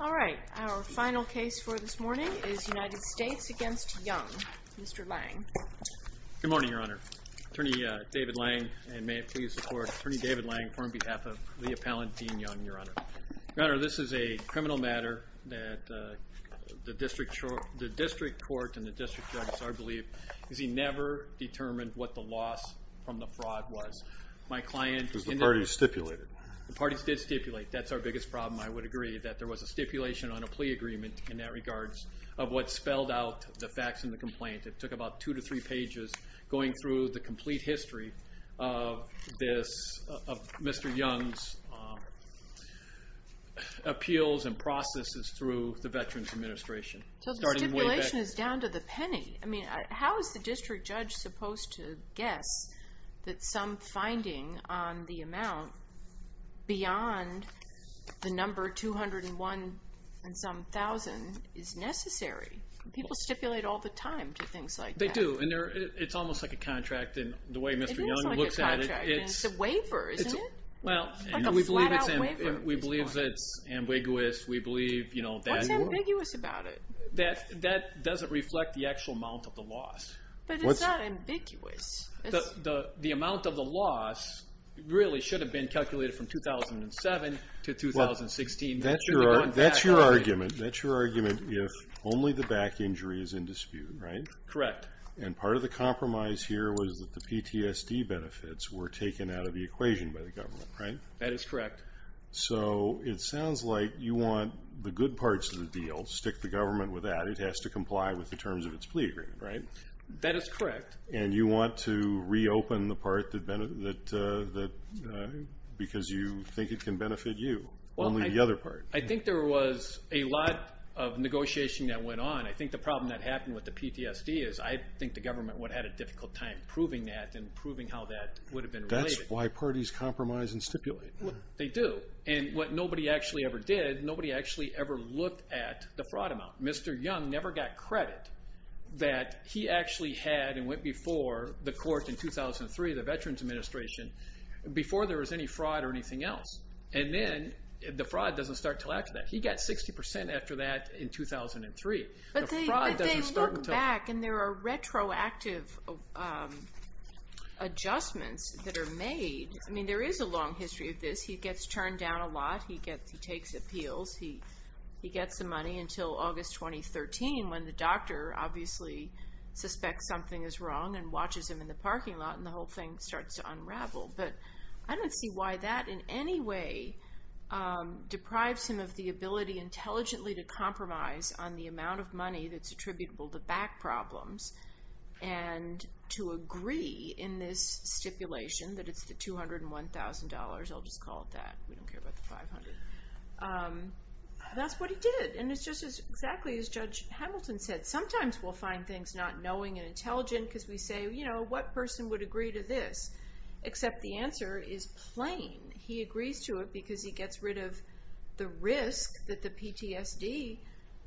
All right, our final case for this morning is United States v. Young. Mr. Lange. Good morning, Your Honor. Attorney David Lange, and may it please the Court. Attorney David Lange on behalf of the appellant Dean Young, Your Honor. Your Honor, this is a criminal matter that the district court and the district judges are believed, because he never determined what the loss from the fraud was. Because the parties stipulated it. The parties did stipulate. That's our biggest problem, I would agree, that there was a stipulation on a plea agreement in that regards of what spelled out the facts in the complaint. It took about two to three pages going through the complete history of this, of Mr. Young's appeals and processes through the Veterans Administration. So the stipulation is down to the penny. I mean, how is the district judge supposed to guess that some finding on the amount beyond the number 201 and some thousand is necessary? People stipulate all the time to things like that. They do, and it's almost like a contract in the way Mr. Young looks at it. It's a waiver, isn't it? Well, we believe that it's ambiguous. What's ambiguous about it? That doesn't reflect the actual amount of the loss. But it's not ambiguous. The amount of the loss really should have been calculated from 2007 to 2016. That's your argument if only the back injury is in dispute, right? Correct. And part of the compromise here was that the PTSD benefits were taken out of the equation by the government, right? That is correct. So it sounds like you want the good parts of the deal, stick the government with that. It has to comply with the terms of its plea agreement, right? That is correct. And you want to reopen the part because you think it can benefit you, only the other part. I think there was a lot of negotiation that went on. I think the problem that happened with the PTSD is I think the government would have had a difficult time proving that and proving how that would have been related. That's why parties compromise and stipulate. They do. And what nobody actually ever did, nobody actually ever looked at the fraud amount. Mr. Young never got credit that he actually had and went before the courts in 2003, the Veterans Administration, before there was any fraud or anything else. And then the fraud doesn't start until after that. He got 60% after that in 2003. But they look back and there are retroactive adjustments that are made. I mean there is a long history of this. He gets turned down a lot. He takes appeals. He gets the money until August 2013 when the doctor obviously suspects something is wrong and watches him in the parking lot and the whole thing starts to unravel. But I don't see why that in any way deprives him of the ability intelligently to compromise on the amount of money that's attributable to back problems and to agree in this stipulation that it's the $201,000. I'll just call it that. We don't care about the $500. That's what he did. And it's just exactly as Judge Hamilton said. What person would agree to this? Except the answer is plain. He agrees to it because he gets rid of the risk that the PTSD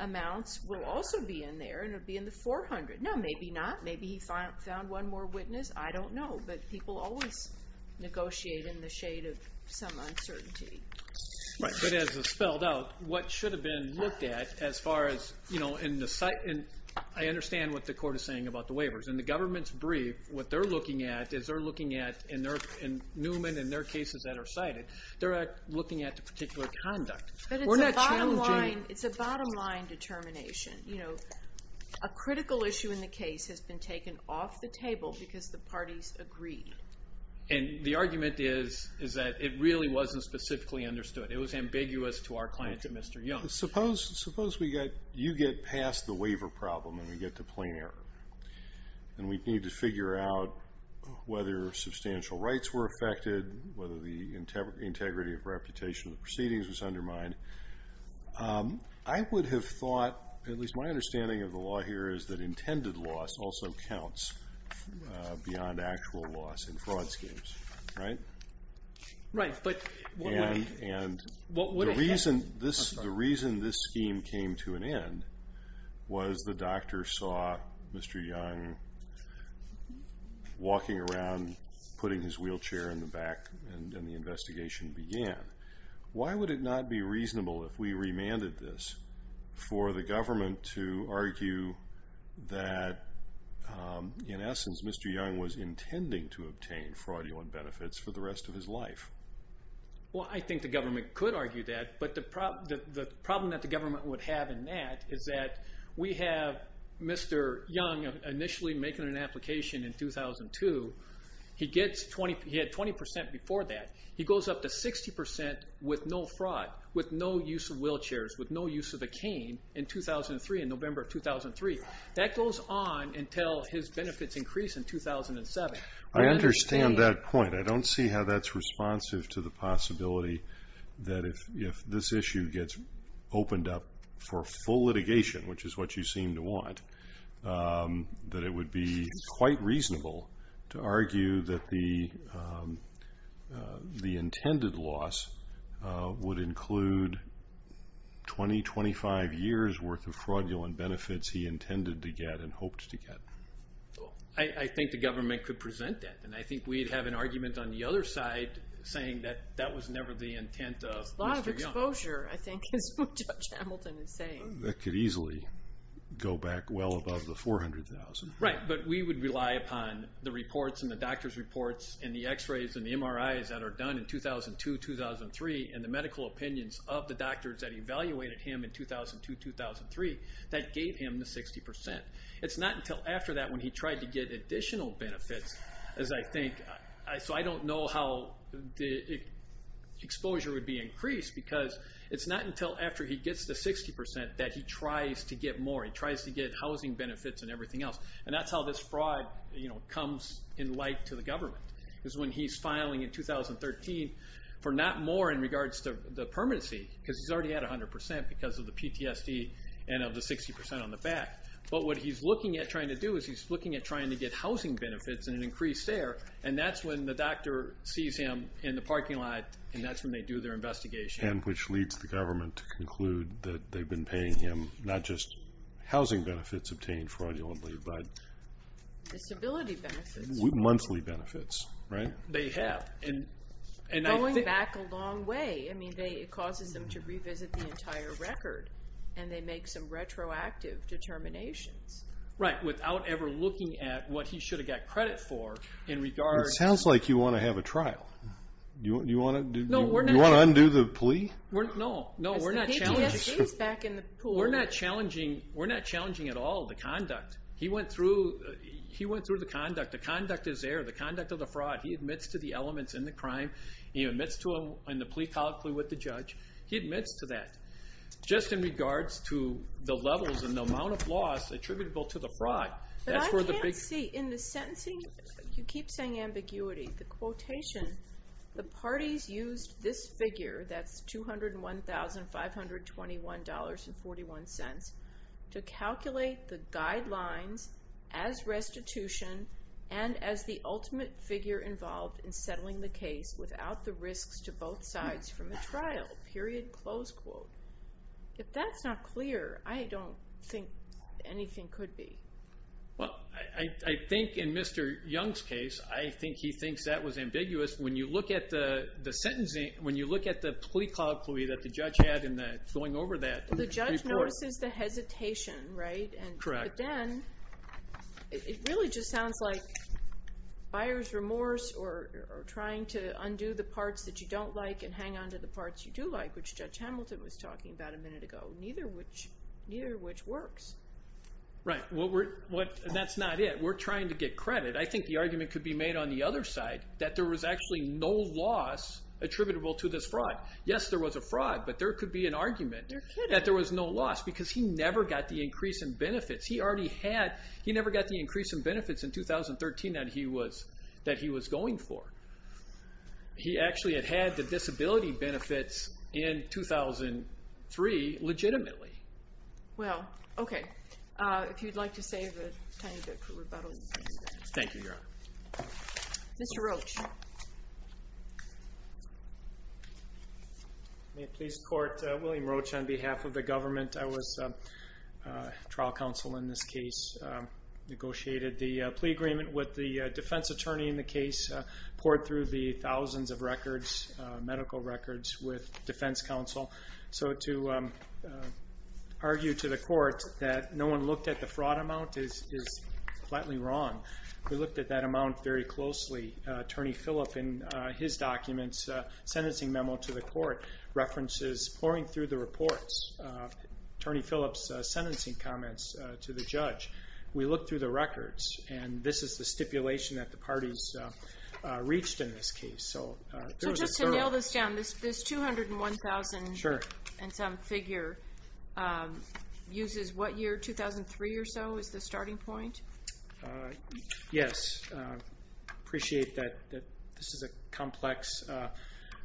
amounts will also be in there and it would be in the $400. Now, maybe not. Maybe he found one more witness. I don't know. But people always negotiate in the shade of some uncertainty. But as it's spelled out, what should have been looked at as far as in the site and I understand what the court is saying about the waivers. In the government's brief, what they're looking at is they're looking at in Newman and their cases that are cited, they're looking at the particular conduct. But it's a bottom line determination. A critical issue in the case has been taken off the table because the parties agreed. And the argument is that it really wasn't specifically understood. It was ambiguous to our clients at Mr. Young. Suppose you get past the waiver problem and we get to plain error and we need to figure out whether substantial rights were affected, whether the integrity of reputation of the proceedings was undermined. I would have thought, at least my understanding of the law here, is that intended loss also counts beyond actual loss in fraud schemes. Right? Right. And the reason this scheme came to an end was the doctor saw Mr. Young walking around putting his wheelchair in the back and the investigation began. Why would it not be reasonable if we remanded this for the government to argue that, in essence, Mr. Young was intending to obtain fraudulent benefits for the rest of his life? Well, I think the government could argue that, but the problem that the government would have in that is that we have Mr. Young initially making an application in 2002. He had 20% before that. He goes up to 60% with no fraud, with no use of wheelchairs, with no use of a cane in 2003, in November of 2003. That goes on until his benefits increase in 2007. I understand that point. I don't see how that's responsive to the possibility that if this issue gets opened up for full litigation, which is what you seem to want, that it would be quite reasonable to argue that the intended loss would include 20, 25 years' worth of fraudulent benefits he intended to get and hoped to get. I think the government could present that, and I think we'd have an argument on the other side saying that that was never the intent of Mr. Young. It's a lot of exposure, I think, is what Judge Hamilton is saying. That could easily go back well above the 400,000. Right, but we would rely upon the reports and the doctor's reports and the X-rays and the MRIs that are done in 2002-2003 and the medical opinions of the doctors that evaluated him in 2002-2003 that gave him the 60%. It's not until after that when he tried to get additional benefits, as I think, so I don't know how the exposure would be increased, because it's not until after he gets the 60% that he tries to get more. He tries to get housing benefits and everything else, and that's how this fraud comes in light to the government, is when he's filing in 2013 for not more in regards to the permanency, because he's already at 100% because of the PTSD and of the 60% on the back. But what he's looking at trying to do is he's looking at trying to get housing benefits and an increase there, and that's when the doctor sees him in the parking lot, and that's when they do their investigation. And which leads the government to conclude that they've been paying him not just housing benefits obtained fraudulently but... Disability benefits. Monthly benefits, right? They have, and I think... Going back a long way. I mean, it causes them to revisit the entire record, and they make some retroactive determinations. Right, without ever looking at what he should have got credit for in regards... It sounds like you want to have a trial. Do you want to undo the plea? No, no, we're not challenging... PTSD is back in the pool. We're not challenging at all the conduct. He went through the conduct. The conduct is there, the conduct of the fraud. He admits to the elements in the crime. He admits to the plea colloquy with the judge. He admits to that. Just in regards to the levels and the amount of loss attributable to the fraud. But I can't see. In the sentencing, you keep saying ambiguity. The quotation, the parties used this figure, that's $201,521.41, to calculate the guidelines as restitution and as the ultimate figure involved in settling the case without the risks to both sides from the trial, period, close quote. If that's not clear, I don't think anything could be. Well, I think in Mr. Young's case, I think he thinks that was ambiguous. When you look at the sentencing, when you look at the plea colloquy that the judge had in going over that. The judge notices the hesitation, right? Correct. But then it really just sounds like buyer's remorse or trying to undo the parts that you don't like and hang on to the parts you do like, which Judge Hamilton was talking about a minute ago, neither of which works. Right. That's not it. We're trying to get credit. I think the argument could be made on the other side that there was actually no loss attributable to this fraud. Yes, there was a fraud, but there could be an argument that there was no loss because he never got the increase in benefits. He never got the increase in benefits in 2013 that he was going for. He actually had had the disability benefits in 2003 legitimately. Well, okay. If you'd like to save a tiny bit for rebuttal, you can do that. Thank you, Your Honor. Mr. Roach. May it please the Court, William Roach on behalf of the government. I was trial counsel in this case, negotiated the plea agreement with the defense attorney in the case, poured through the thousands of medical records with defense counsel. So to argue to the court that no one looked at the fraud amount is flatly wrong. We looked at that amount very closely. Attorney Phillip, in his documents, sentencing memo to the court, references pouring through the reports. Attorney Phillip's sentencing comments to the judge. We looked through the records, and this is the stipulation that the parties reached in this case. So just to nail this down, this 201,000 and some figure uses what year? 2003 or so is the starting point? Yes. Appreciate that this is a complex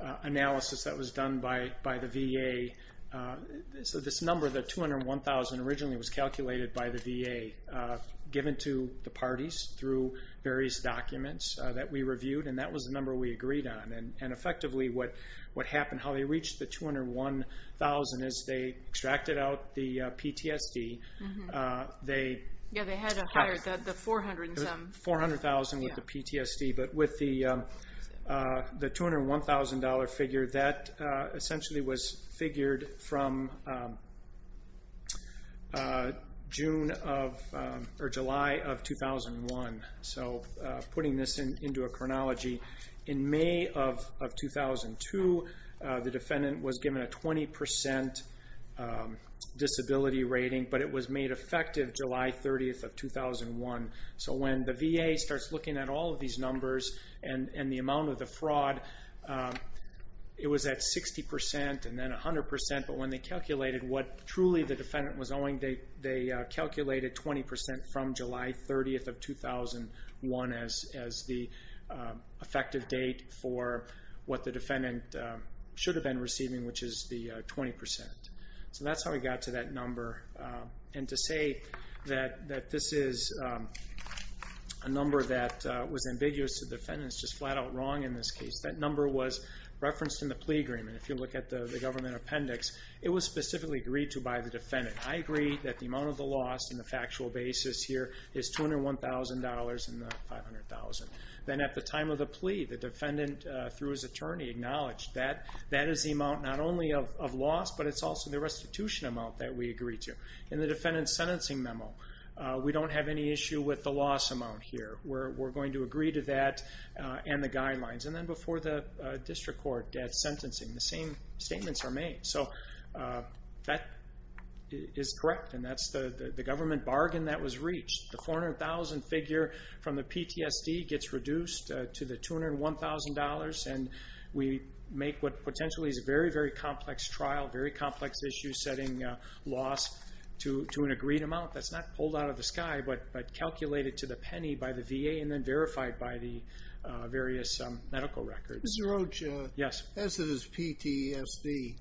analysis that was done by the VA. So this number, the 201,000, originally was calculated by the VA, given to the parties through various documents that we reviewed, and that was the number we agreed on. And effectively what happened, how they reached the 201,000, is they extracted out the PTSD. Yeah, they had to hire the 400 and some. 400,000 with the PTSD. But with the 201,000 figure, that essentially was figured from July of 2001. So putting this into a chronology, in May of 2002, the defendant was given a 20% disability rating, but it was made effective July 30th of 2001. So when the VA starts looking at all of these numbers and the amount of the fraud, it was at 60% and then 100%. But when they calculated what truly the defendant was owing, they calculated 20% from July 30th of 2001 as the effective date for what the defendant should have been receiving, which is the 20%. So that's how we got to that number. And to say that this is a number that was ambiguous to the defendants is just flat out wrong in this case. That number was referenced in the plea agreement. If you look at the government appendix, it was specifically agreed to by the defendant. I agree that the amount of the loss in the factual basis here is $201,000 and not $500,000. Then at the time of the plea, the defendant, through his attorney, acknowledged that that is the amount not only of loss, but it's also the restitution amount that we agree to. In the defendant's sentencing memo, we don't have any issue with the loss amount here. We're going to agree to that and the guidelines. And then before the district court at sentencing, the same statements are made. So that is correct, and that's the government bargain that was reached. The $400,000 figure from the PTSD gets reduced to the $201,000, and we make what potentially is a very, very complex trial, very complex issue setting loss to an agreed amount that's not pulled out of the sky, but calculated to the penny by the VA and then verified by the various medical records. Mr. Roach, as it is PTSD,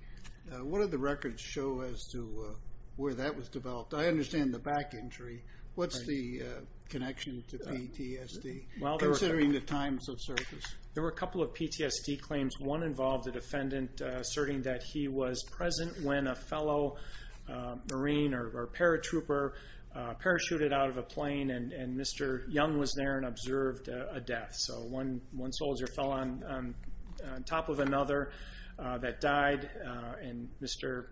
what do the records show as to where that was developed? I understand the back injury. What's the connection to PTSD, considering the times of service? There were a couple of PTSD claims. One involved the defendant asserting that he was present when a fellow Marine or paratrooper parachuted out of a plane, and Mr. Young was there and observed a death. So one soldier fell on top of another that died, and Mr.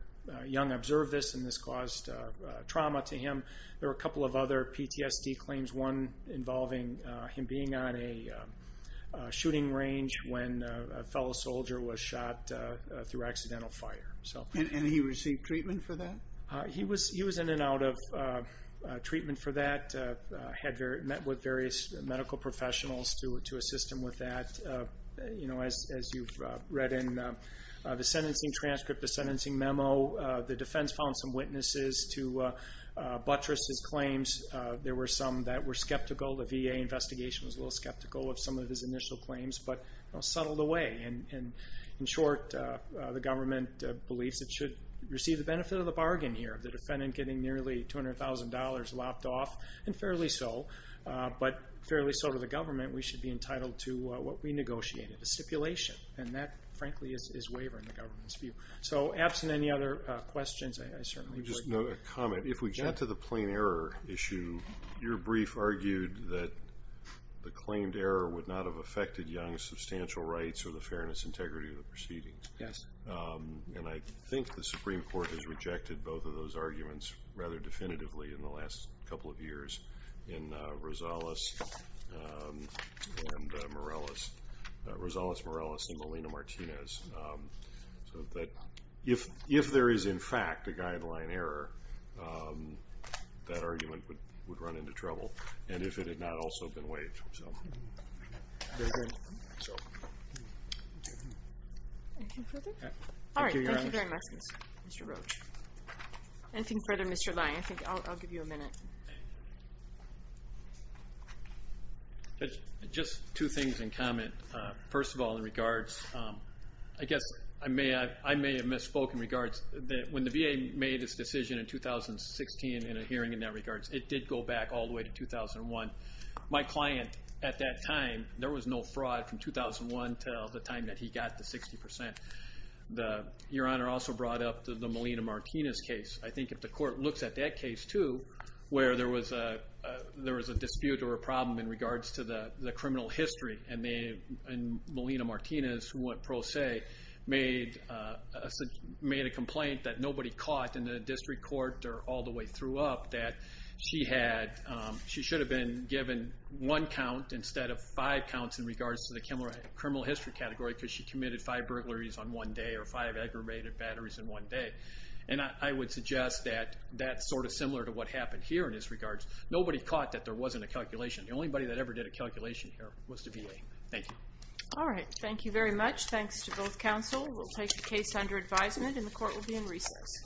Young observed this, and this caused trauma to him. There were a couple of other PTSD claims, one involving him being on a shooting range when a fellow soldier was shot through accidental fire. And he received treatment for that? He was in and out of treatment for that, met with various medical professionals to assist him with that. As you've read in the sentencing transcript, the sentencing memo, the defense found some witnesses to buttress his claims. There were some that were skeptical. The VA investigation was a little skeptical of some of his initial claims, but settled away. In short, the government believes it should receive the benefit of the bargain here, the defendant getting nearly $200,000 lopped off, and fairly so. But fairly so to the government, we should be entitled to what we negotiated, a stipulation. And that, frankly, is wavering the government's view. So absent any other questions, I certainly would. Just a comment. If we get to the plain error issue, your brief argued that the claimed error would not have affected Young's substantial rights or the fairness and integrity of the proceedings. Yes. And I think the Supreme Court has rejected both of those arguments rather definitively in the last couple of years in Rosales-Morales and Molina-Martinez, so that if there is, in fact, a guideline error, that argument would run into trouble, and if it had not also been waived. Very good. Anything further? All right. Thank you very much, Mr. Roach. Anything further, Mr. Lyon? I think I'll give you a minute. Just two things in comment. First of all, in regards, I guess I may have misspoken in regards that when the VA made its decision in 2016 in a hearing in that regards, it did go back all the way to 2001. My client at that time, there was no fraud from 2001 to the time that he got the 60%. Your Honor also brought up the Molina-Martinez case. I think if the court looks at that case, too, where there was a dispute or a problem in regards to the criminal history, and Molina-Martinez, who went pro se, made a complaint that nobody caught in the district court or all the way through up that she should have been given one count instead of five counts in regards to the criminal history category because she committed five burglaries on one day or five aggravated batteries in one day. And I would suggest that that's sort of similar to what happened here in this regards. Nobody caught that there wasn't a calculation. The only body that ever did a calculation here was the VA. Thank you. All right. Thank you very much. Thanks to both counsel. We'll take the case under advisement, and the court will be in recess.